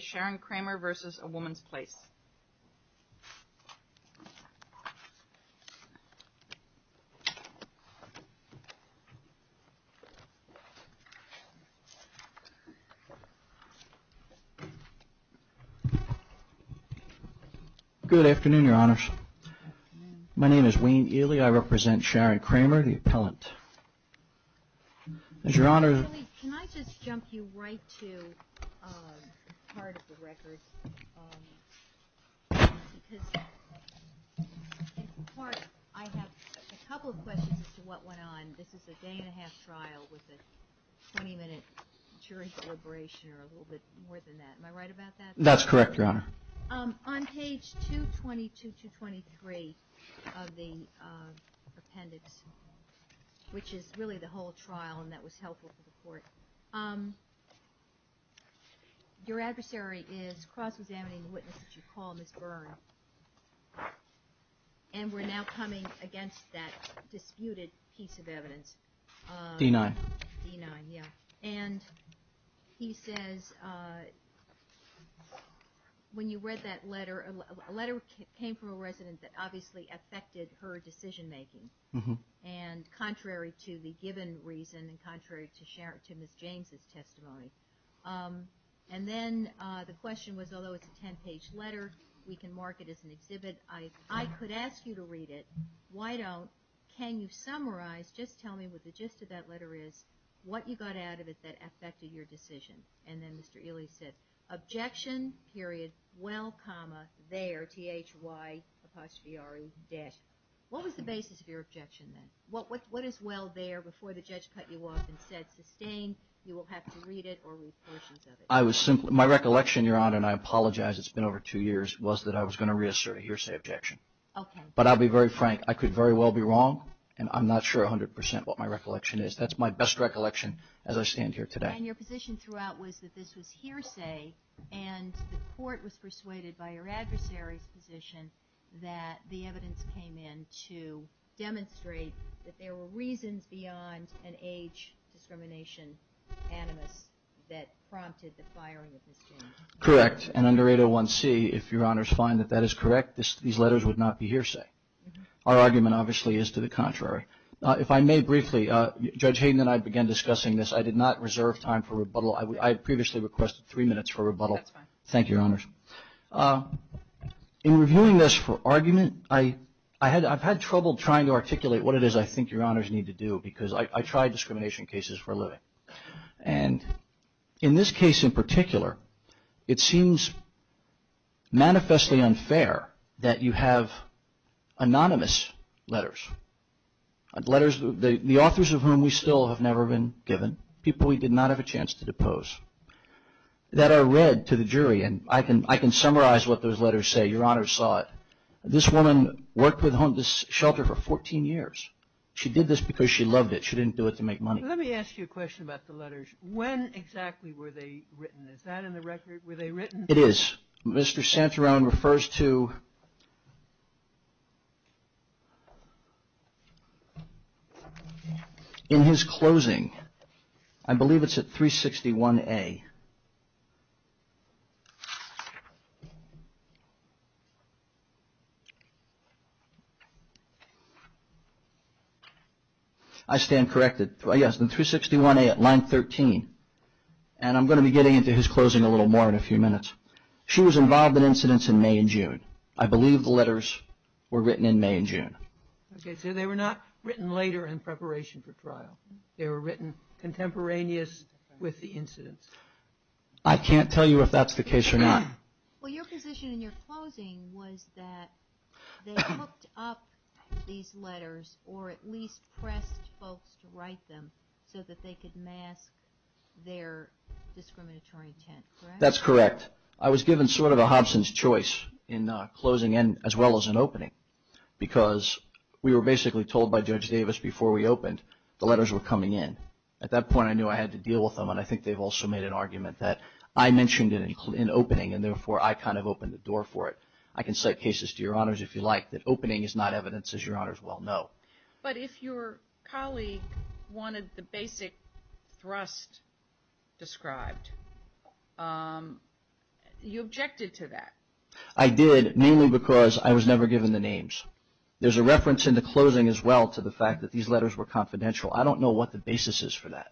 Sharon Kramer v. AWomans Place Good afternoon, Your Honors. My name is Wayne Ely. I represent Sharon Kramer, the appellant. I have a couple of questions as to what went on. This is a day-and-a-half trial with a 20-minute jury deliberation or a little bit more than that. Am I right about that? That's correct, Your Honor. On page 222-223 of the appendix, which is really the whole trial and that was helpful for the court, your adversary is cross-examining the witness that you call Ms. Byrne, and we're now coming against that disputed piece of evidence. D-9. D-9, yeah. And he says, when you read that letter, a letter came from a resident that obviously affected her decision-making and contrary to the given reason and contrary to Ms. James' testimony. And then the question was, although it's a ten-page letter, we can mark it as an exhibit. I could ask you to read it. Why don't, can you summarize, just tell me what the gist of that letter is? What you got out of it that affected your decision? And then Mr. Ely said, objection, period, well, comma, there, T-H-Y apostrophe R-E, dash. What was the basis of your objection then? What is well there before the judge cut you off and said, sustain, you will have to read it or read portions of it? My recollection, Your Honor, and I apologize, it's been over two years, was that I was going to reassert a hearsay objection. Okay. But I'll be very frank, I could very well be wrong and I'm not sure 100% what my recollection is. That's my best recollection as I stand here today. And your position throughout was that this was hearsay and the court was persuaded by your adversary's position that the evidence came in to demonstrate that there were reasons beyond an age discrimination animus that prompted the firing of Ms. James. Correct. And under 801C, if Your Honors find that that is correct, these letters would not be hearsay. Our argument obviously is to the contrary. If I may briefly, Judge Hayden and I began discussing this. I did not reserve time for rebuttal. I previously requested three minutes for rebuttal. That's fine. Thank you, Your Honors. In reviewing this for argument, I've had trouble trying to articulate what it is I think Your Honors need to do because I try discrimination cases for a living. And in this case in particular, it seems manifestly unfair that you have anonymous letters. Letters, the authors of whom we still have never been given, people we did not have a chance to depose, that are read to the jury. And I can summarize what those letters say. Your Honors saw it. This woman worked with Hondas Shelter for 14 years. She did this because she loved it. She didn't do it to make money. Let me ask you a question about the letters. When exactly were they written? Is that in the record? Were they written? It is. Mr. Santarone refers to in his closing. I believe it's at 361A. I stand corrected. Yes, in 361A at line 13. And I'm going to be getting into his closing a little more in a few minutes. She was involved in incidents in May and June. I believe the letters were written in May and June. Okay, so they were not written later in preparation for trial. They were written contemporaneous with the incidents. I can't tell you if that's the case or not. Well, your position in your closing was that they hooked up these letters or at least pressed folks to write them so that they could mask their discriminatory intent. That's correct. I was given sort of a Hobson's choice in closing and as well as in opening because we were basically told by Judge Davis before we opened the letters were coming in. At that point I knew I had to deal with them and I think they've also made an argument that I mentioned it in opening and therefore I kind of opened the door for it. I can cite cases to your Honors if you like that opening is not evidence as your Honors well know. But if your colleague wanted the basic thrust described, you objected to that. I did mainly because I was never given the names. There's a reference in the closing as well to the fact that these letters were confidential. I don't know what the basis is for that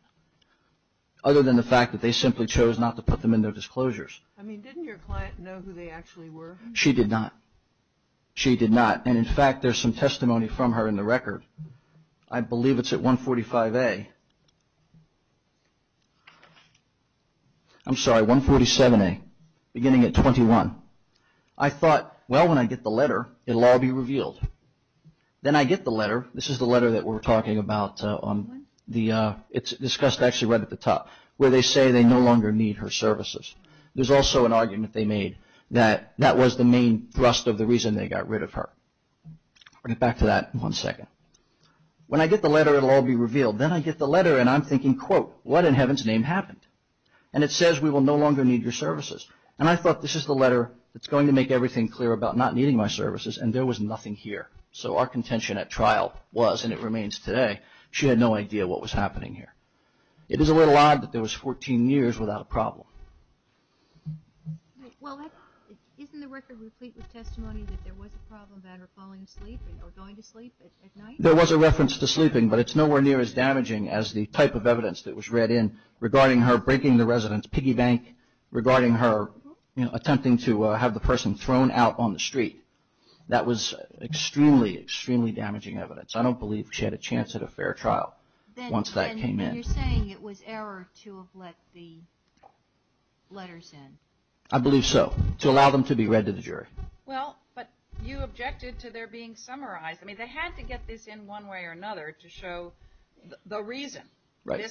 other than the fact that they simply chose not to put them in their disclosures. I mean didn't your client know who they actually were? She did not. She did not and in fact there's some testimony from her in the record. I believe it's at 147A beginning at 21. I thought well when I get the letter it will all be revealed. Then I get the letter. This is the letter that we're talking about. It's discussed actually right at the top where they say they no longer need her services. There's also an argument they made that that was the main thrust of the reason they got rid of her. I'll get back to that in one second. When I get the letter it will all be revealed. Then I get the letter and I'm thinking quote what in heaven's name happened? And it says we will no longer need your services. And I thought this is the letter that's going to make everything clear about not needing my services and there was nothing here. So our contention at trial was and it remains today she had no idea what was happening here. It is a little odd that there was 14 years without a problem. Isn't the record replete with testimony that there was a problem about her falling asleep or going to sleep at night? There was a reference to sleeping but it's nowhere near as damaging as the type of evidence that was read in regarding her breaking the residence piggy bank, regarding her attempting to have the person thrown out on the street. That was extremely, extremely damaging evidence. I don't believe she had a chance at a fair trial once that came in. And you're saying it was error to have let the letters in? I believe so. To allow them to be read to the jury. Well but you objected to their being summarized. I mean they had to get this in one way or another to show the reason. Right.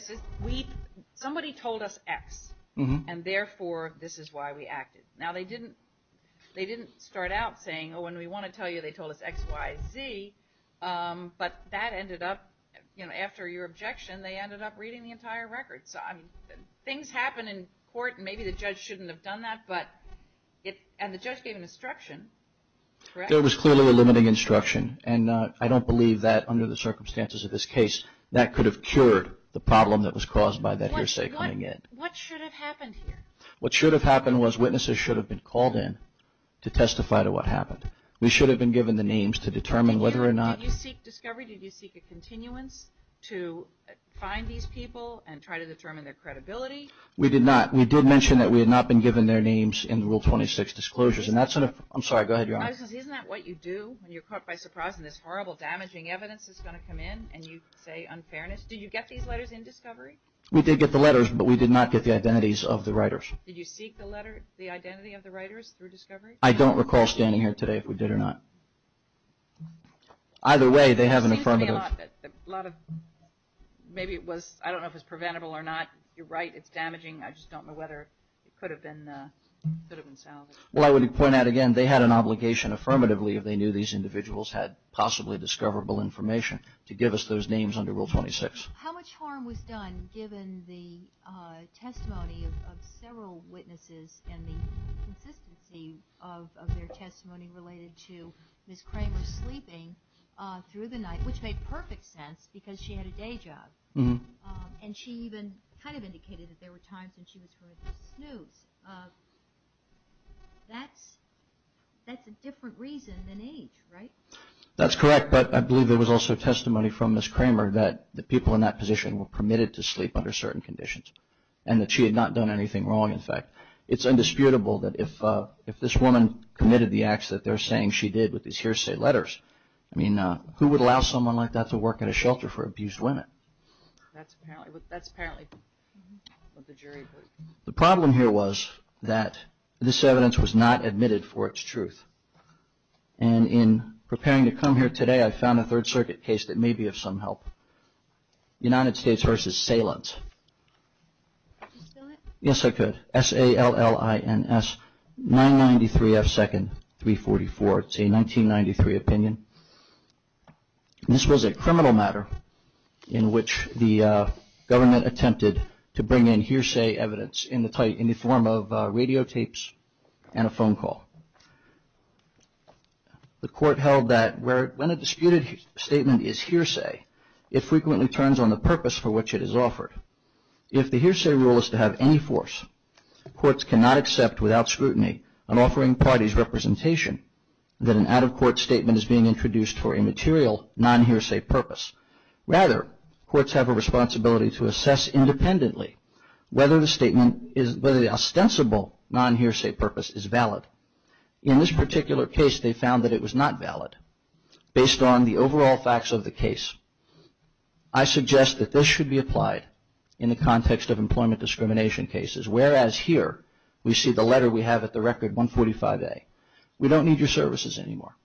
Somebody told us X and therefore this is why we acted. Now they didn't start out saying oh and we want to tell you they told us X, Y, Z. But that ended up, after your objection, they ended up reading the entire record. So I mean things happen in court and maybe the judge shouldn't have done that and the judge gave an instruction. There was clearly a limiting instruction and I don't believe that under the circumstances of this case that could have cured the problem that was caused by that hearsay coming in. What should have happened here? What should have happened was witnesses should have been called in to testify to what happened. We should have been given the names to determine whether or not. Did you seek discovery? Did you seek a continuance to find these people and try to determine their credibility? We did not. We did mention that we had not been given their names in Rule 26 disclosures. Isn't that what you do when you're caught by surprise and this horrible damaging evidence is going to come in and you say unfairness? Did you get these letters in discovery? We did get the letters but we did not get the identities of the writers. Did you seek the identity of the writers through discovery? I don't recall standing here today if we did or not. Either way they have an affirmative. Maybe it was, I don't know if it was preventable or not. You're right, it's damaging. I just don't know whether it could have been salvaged. Well I would point out again they had an obligation affirmatively if they knew these individuals had possibly discoverable information to give us those names under Rule 26. How much harm was done given the testimony of several witnesses and the consistency of their testimony related to Ms. Kramer sleeping through the night, which made perfect sense because she had a day job and she even kind of indicated that there were times when she was going to snooze. That's a different reason than age, right? That's correct but I believe there was also testimony from Ms. Kramer that the people in that position were permitted to sleep under certain conditions and that she had not done anything wrong in fact. It's indisputable that if this woman committed the acts that they're saying she did with these hearsay letters, I mean who would allow someone like that to work at a shelter for abused women? That's apparently what the jury heard. The problem here was that this evidence was not admitted for its truth and in preparing to come here today I found a Third Circuit case that may be of some help. United States vs. Salins. Yes I could. S-A-L-L-I-N-S-993-F-2-344. It's a 1993 opinion. This was a criminal matter in which the government attempted to bring in hearsay evidence in the form of radio tapes and a phone call. The court held that when a disputed statement is hearsay, it frequently turns on the purpose for which it is offered. If the hearsay rule is to have any force, courts cannot accept without scrutiny an offering party's representation that an out-of-court statement is being introduced for a material non-hearsay purpose. Rather, courts have a responsibility to assess independently whether the statement, whether the ostensible non-hearsay purpose is valid. In this particular case they found that it was not valid. Based on the overall facts of the case, I suggest that this should be applied in the context of employment discrimination cases, whereas here we see the letter we have at the record 145A. We don't need your services anymore.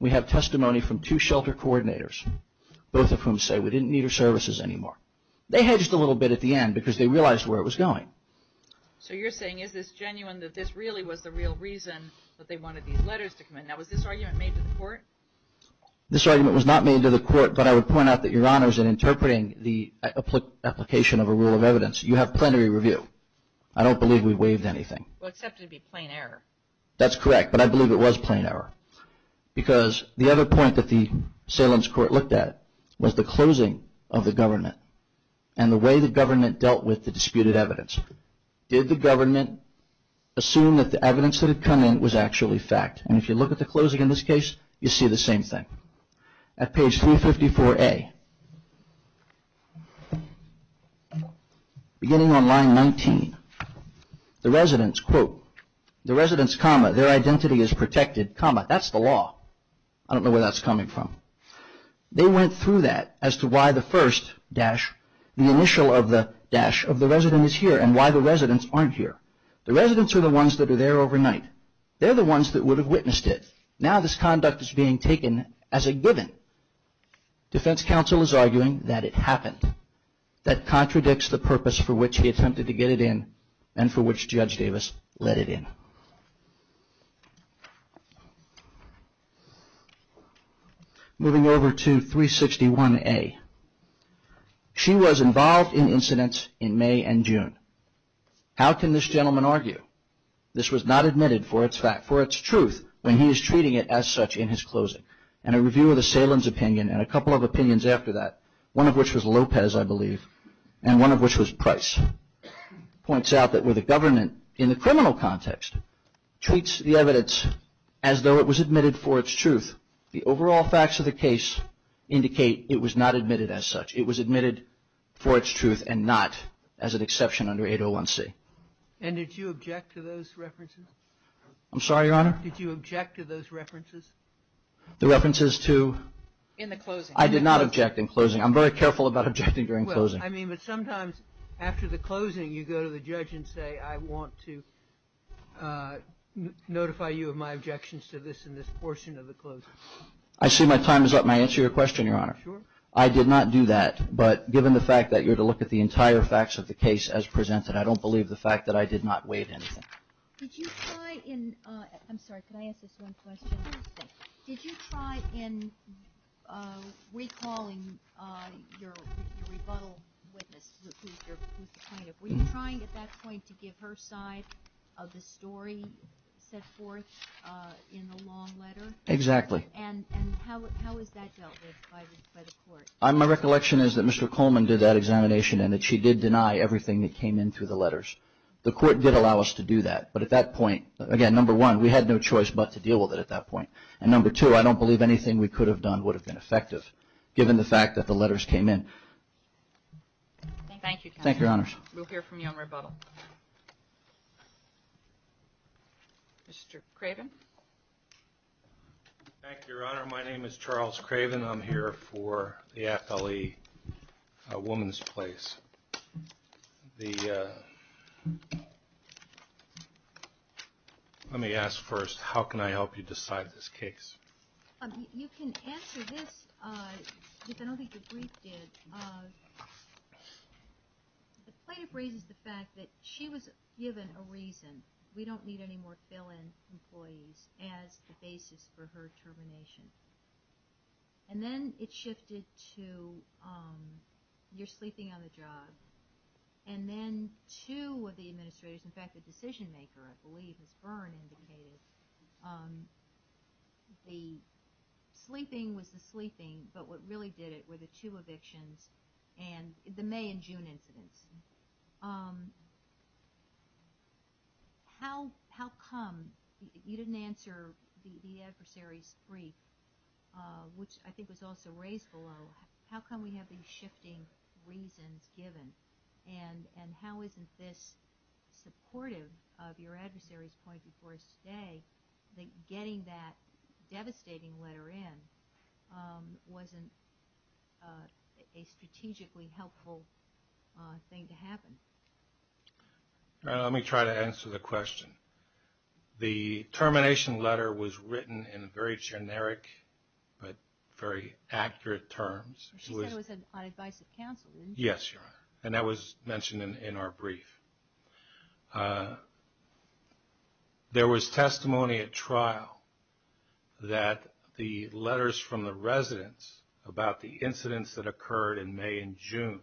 We have testimony from two shelter coordinators, both of whom say we didn't need your services anymore. They hedged a little bit at the end because they realized where it was going. So you're saying is this genuine that this really was the real reason that they wanted these letters to come in? Now was this argument made to the court? This argument was not made to the court, but I would point out that, Your Honors, in interpreting the application of a rule of evidence, you have plenary review. I don't believe we waived anything. Well, except it would be plain error. That's correct, but I believe it was plain error. Because the other point that the Salem's court looked at was the closing of the government and the way the government dealt with the disputed evidence. Did the government assume that the evidence that had come in was actually fact? And if you look at the closing in this case, you see the same thing. At page 354A, beginning on line 19, the residents, quote, the residents, comma, their identity is protected, comma, that's the law. I don't know where that's coming from. They went through that as to why the first dash, the initial of the dash of the resident is here and why the residents aren't here. The residents are the ones that are there overnight. They're the ones that would have witnessed it. Now this conduct is being taken as a given. Defense counsel is arguing that it happened. That contradicts the purpose for which he attempted to get it in and for which Judge Davis let it in. Moving over to 361A. She was involved in incidents in May and June. How can this gentleman argue? This was not admitted for its fact, for its truth, when he is treating it as such in his closing. And a review of the Salem's opinion and a couple of opinions after that, one of which was Lopez, I believe, and one of which was Price, points out that where the government, in the criminal context, treats the evidence as though it was admitted for its truth, the overall facts of the case indicate it was not admitted as such. It was admitted for its truth and not as an exception under 801C. And did you object to those references? I'm sorry, Your Honor? Did you object to those references? The references to? In the closing. I did not object in closing. I'm very careful about objecting during closing. Well, I mean, but sometimes after the closing, you go to the judge and say, I want to notify you of my objections to this in this portion of the closing. I see my time is up. May I answer your question, Your Honor? Sure. I did not do that, but given the fact that you're to look at the entire facts of the case as presented, I don't believe the fact that I did not weight anything. Did you try in, I'm sorry, can I ask this one question? Sure. Did you try in recalling your rebuttal witness, who's the plaintiff, were you trying at that point to give her side of the story set forth in the long letter? Exactly. And how is that dealt with by the court? My recollection is that Mr. Coleman did that examination and that she did deny everything that came in through the letters. The court did allow us to do that, but at that point, again, number one, we had no choice but to deal with it at that point. And number two, I don't believe anything we could have done would have been effective, given the fact that the letters came in. Thank you. Thank you, Your Honors. We'll hear from you on rebuttal. Mr. Craven. Thank you, Your Honor. My name is Charles Craven. I'm here for the FLE woman's place. Let me ask first, how can I help you decide this case? You can answer this, but I don't think the brief did. The plaintiff raises the fact that she was given a reason. We don't need any more fill-in employees as the basis for her termination. And then it shifted to you're sleeping on the job. And then two of the administrators, in fact, the decision-maker, I believe, as Byrne indicated, the sleeping was the sleeping, but what really did it were the two evictions and the May and June incidents. How come you didn't answer the adversary's brief, which I think was also raised below. How come we have these shifting reasons given? And how isn't this supportive of your adversary's point before us today, that getting that devastating letter in wasn't a strategically helpful thing to happen? Let me try to answer the question. The termination letter was written in very generic but very accurate terms. She said it was on advice of counsel, didn't she? Yes, Your Honor, and that was mentioned in our brief. There was testimony at trial that the letters from the residents about the incidents that occurred in May and June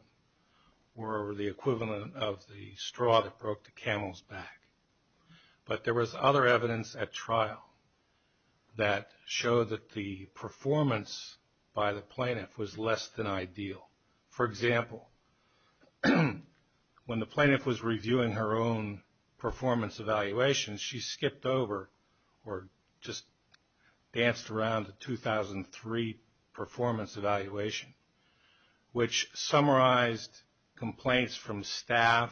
were the equivalent of the straw that broke the camel's back. But there was other evidence at trial that showed that the performance by the plaintiff was less than ideal. For example, when the plaintiff was reviewing her own performance evaluation, she skipped over or just danced around the 2003 performance evaluation, which summarized complaints from staff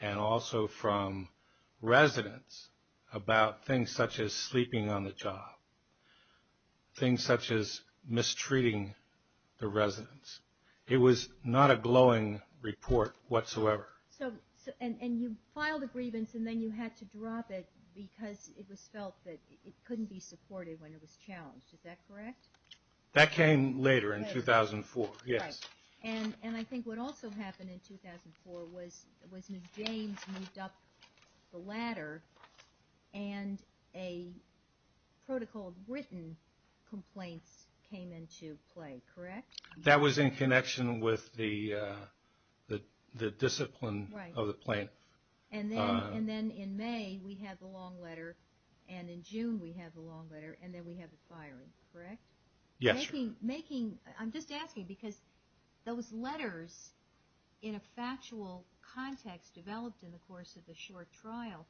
and also from residents about things such as sleeping on the job, things such as mistreating the residents. It was not a glowing report whatsoever. And you filed a grievance and then you had to drop it because it was felt that it couldn't be supported when it was challenged. Is that correct? That came later in 2004, yes. And I think what also happened in 2004 was Ms. James moved up the ladder and a protocol of written complaints came into play, correct? That was in connection with the discipline of the plaintiff. And then in May we had the long letter, and in June we had the long letter, and then we had the firing, correct? Yes, Your Honor. I'm just asking because those letters in a factual context developed in the course of the short trial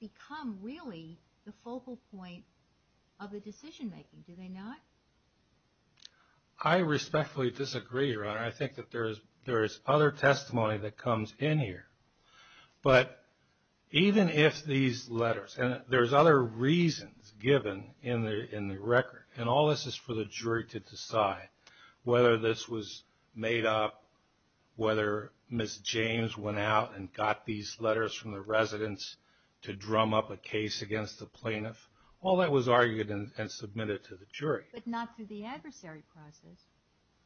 become really the focal point of the decision making, do they not? I respectfully disagree, Your Honor. I think that there is other testimony that comes in here. But even if these letters, and there's other reasons given in the record, and all this is for the jury to decide whether this was made up, whether Ms. James went out and got these letters from the residents to drum up a case against the plaintiff, all that was argued and submitted to the jury. But not through the adversary process.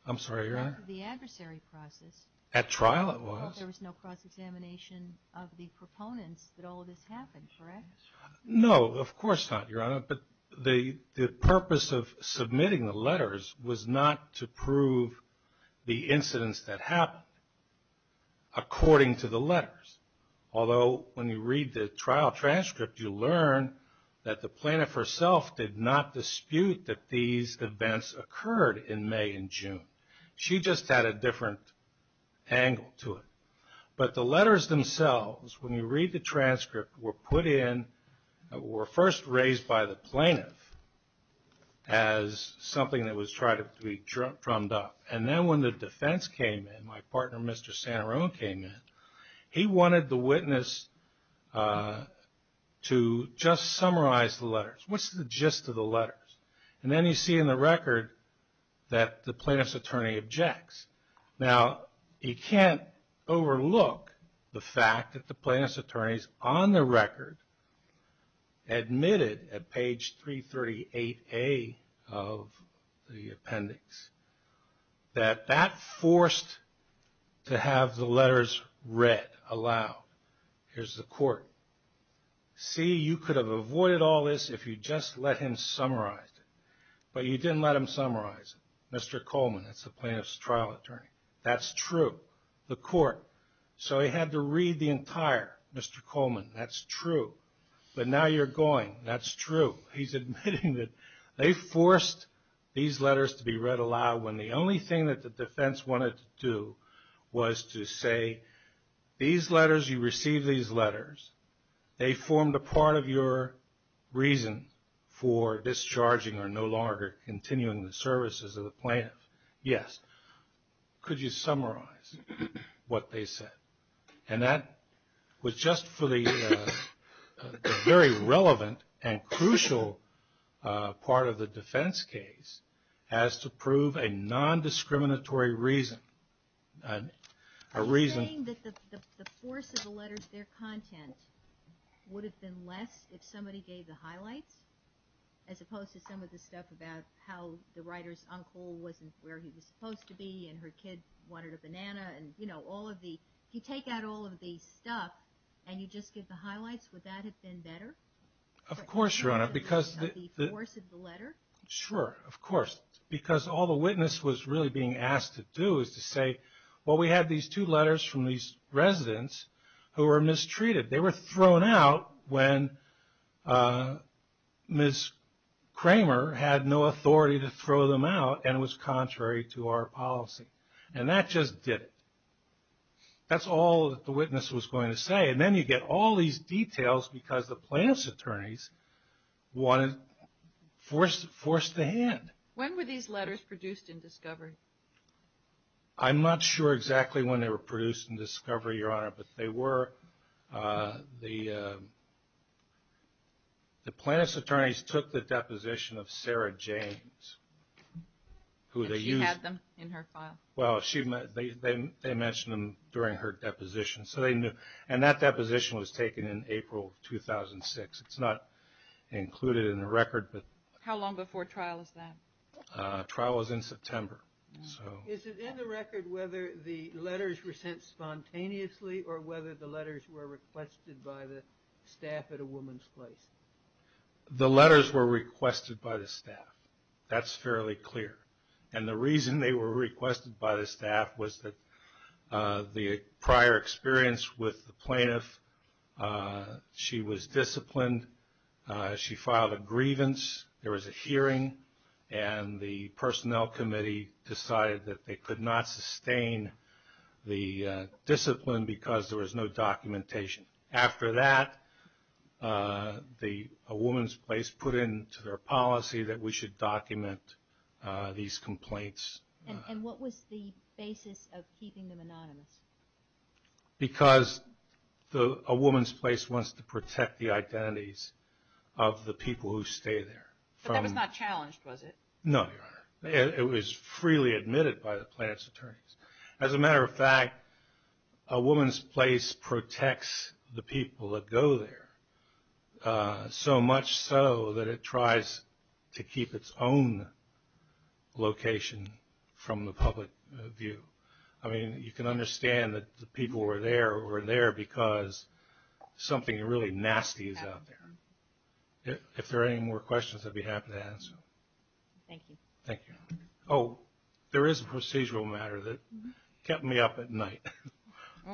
I'm sorry, Your Honor? Not through the adversary process. At trial it was. There was no cross-examination of the proponents that all of this happened, correct? No, of course not, Your Honor. But the purpose of submitting the letters was not to prove the incidents that happened, according to the letters. Although when you read the trial transcript, you learn that the plaintiff herself did not dispute that these events occurred in May and June. She just had a different angle to it. But the letters themselves, when you read the transcript, were first raised by the plaintiff as something that was tried to be drummed up. And then when the defense came in, my partner, Mr. Santarone, came in, he wanted the witness to just summarize the letters. What's the gist of the letters? And then you see in the record that the plaintiff's attorney objects. Now, you can't overlook the fact that the plaintiff's attorney is on the record, admitted at page 338A of the appendix, that that forced to have the letters read aloud. Here's the court. See, you could have avoided all this if you just let him summarize it. But you didn't let him summarize it. Mr. Coleman, that's the plaintiff's trial attorney. That's true. The court. So he had to read the entire. Mr. Coleman, that's true. But now you're going. That's true. He's admitting that they forced these letters to be read aloud when the only thing that the defense wanted to do was to say, these letters, you received these letters. They formed a part of your reason for discharging or no longer continuing the services of the plaintiff. Yes. Could you summarize what they said? And that was just for the very relevant and crucial part of the defense case as to prove a nondiscriminatory reason. A reason. You're saying that the force of the letters, their content, would have been less if somebody gave the highlights as opposed to some of the stuff about how the writer's uncle wasn't where he was supposed to be and her kid wanted a banana and, you know, all of the. If you take out all of the stuff and you just give the highlights, would that have been better? Of course, Your Honor, because. The force of the letter. Sure, of course. Because all the witness was really being asked to do is to say, well, we had these two letters from these residents who were mistreated. They were thrown out when Ms. Kramer had no authority to throw them out and it was contrary to our policy. And that just did it. That's all that the witness was going to say. And then you get all these details because the plaintiff's attorneys wanted to force the hand. When were these letters produced and discovered? I'm not sure exactly when they were produced and discovered, Your Honor, but they were the plaintiff's attorneys took the deposition of Sarah James. And she had them in her file? Well, they mentioned them during her deposition. And that deposition was taken in April 2006. It's not included in the record. How long before trial is that? Trial is in September. Is it in the record whether the letters were sent spontaneously or whether the letters were requested by the staff at a woman's place? The letters were requested by the staff. That's fairly clear. And the reason they were requested by the staff was that the prior experience with the plaintiff, she was disciplined, she filed a grievance, there was a hearing, and the personnel committee decided that they could not sustain the discipline because there was no documentation. After that, a woman's place put into their policy that we should document these complaints. And what was the basis of keeping them anonymous? Because a woman's place wants to protect the identities of the people who stay there. But that was not challenged, was it? No, Your Honor. It was freely admitted by the plaintiff's attorneys. As a matter of fact, a woman's place protects the people that go there, so much so that it tries to keep its own location from the public view. I mean, you can understand that the people who are there were there because something really nasty is out there. If there are any more questions, I'd be happy to answer them. Thank you. Thank you. Oh, there is a procedural matter that kept me up at night,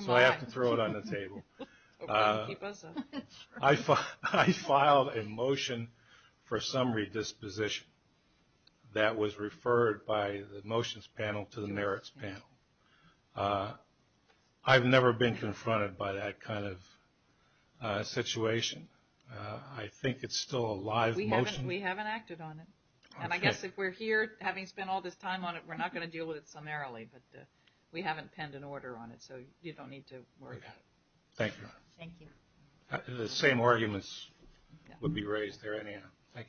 so I have to throw it on the table. I filed a motion for summary disposition that was referred by the motions panel to the merits panel. I've never been confronted by that kind of situation. I think it's still a live motion. We haven't acted on it. And I guess if we're here, having spent all this time on it, we're not going to deal with it summarily. But we haven't penned an order on it, so you don't need to worry about it. Thank you. Thank you. The same arguments would be raised there anyhow. Thank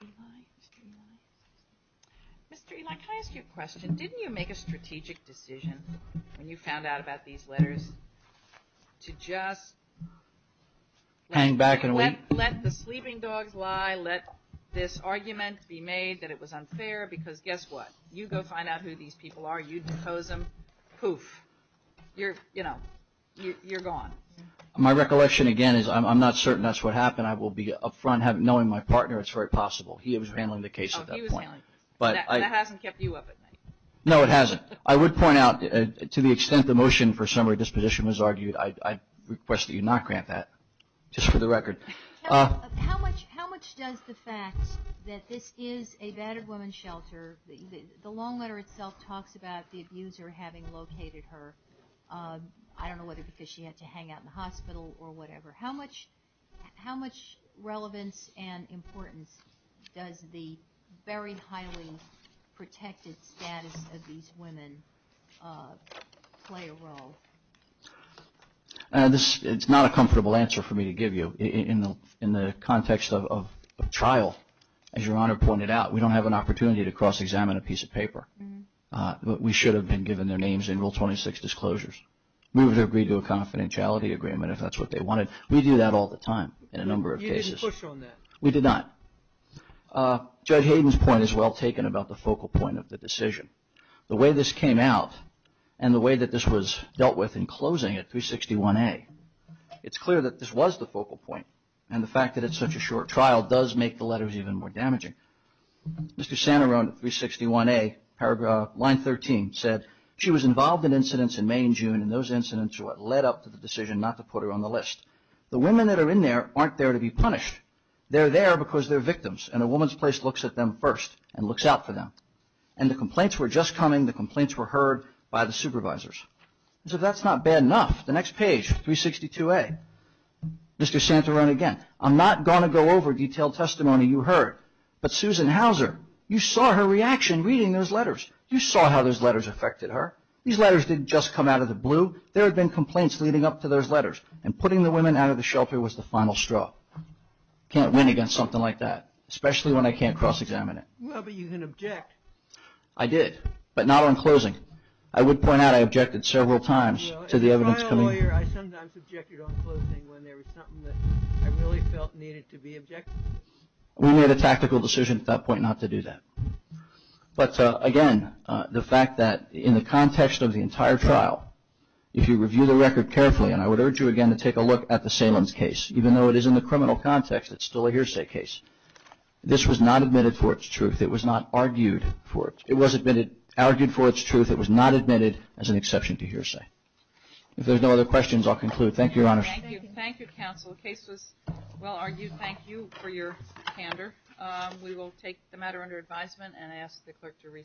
you. Mr. Eli, can I ask you a question? Didn't you make a strategic decision when you found out about these letters to just let the sleeping dogs lie, let this argument be made that it was unfair? Because guess what? You go find out who these people are, you depose them, poof, you're gone. My recollection, again, is I'm not certain that's what happened. I will be up front knowing my partner, it's very possible. He was handling the case at that point. Oh, he was handling the case. That hasn't kept you up at night. No, it hasn't. I would point out, to the extent the motion for summary disposition was argued, I request that you not grant that, just for the record. How much does the fact that this is a battered woman's shelter, the long letter itself talks about the abuser having located her, I don't know whether because she had to hang out in the hospital or whatever, how much relevance and importance does the very highly protected status of these women play a role? It's not a comfortable answer for me to give you. In the context of trial, as Your Honor pointed out, we don't have an opportunity to cross-examine a piece of paper. We should have been given their names in Rule 26 disclosures. We would have agreed to a confidentiality agreement if that's what they wanted. We do that all the time in a number of cases. You didn't push on that. We did not. Judge Hayden's point is well taken about the focal point of the decision. The way this came out and the way that this was dealt with in closing at 361A, it's clear that this was the focal point, Mr. Santarone, 361A, line 13, said, she was involved in incidents in May and June, and those incidents are what led up to the decision not to put her on the list. The women that are in there aren't there to be punished. They're there because they're victims, and a woman's place looks at them first and looks out for them. And the complaints were just coming. The complaints were heard by the supervisors. So that's not bad enough. The next page, 362A, Mr. Santarone again, I'm not going to go over detailed testimony you heard, but Susan Hauser, you saw her reaction reading those letters. You saw how those letters affected her. These letters didn't just come out of the blue. There had been complaints leading up to those letters, and putting the women out of the shelter was the final straw. Can't win against something like that, especially when I can't cross-examine it. Well, but you can object. I did, but not on closing. I would point out I objected several times to the evidence coming. As a lawyer, I sometimes objected on closing when there was something that I really felt needed to be objected to. We made a tactical decision at that point not to do that. But again, the fact that in the context of the entire trial, if you review the record carefully, and I would urge you again to take a look at the Salins case, even though it is in the criminal context, it's still a hearsay case. This was not admitted for its truth. It was not argued for its truth. It was not admitted as an exception to hearsay. If there's no other questions, I'll conclude. Thank you, Your Honor. Thank you. Thank you, counsel. The case was well argued. Thank you for your candor. We will take the matter under advisement and ask the clerk to rescind.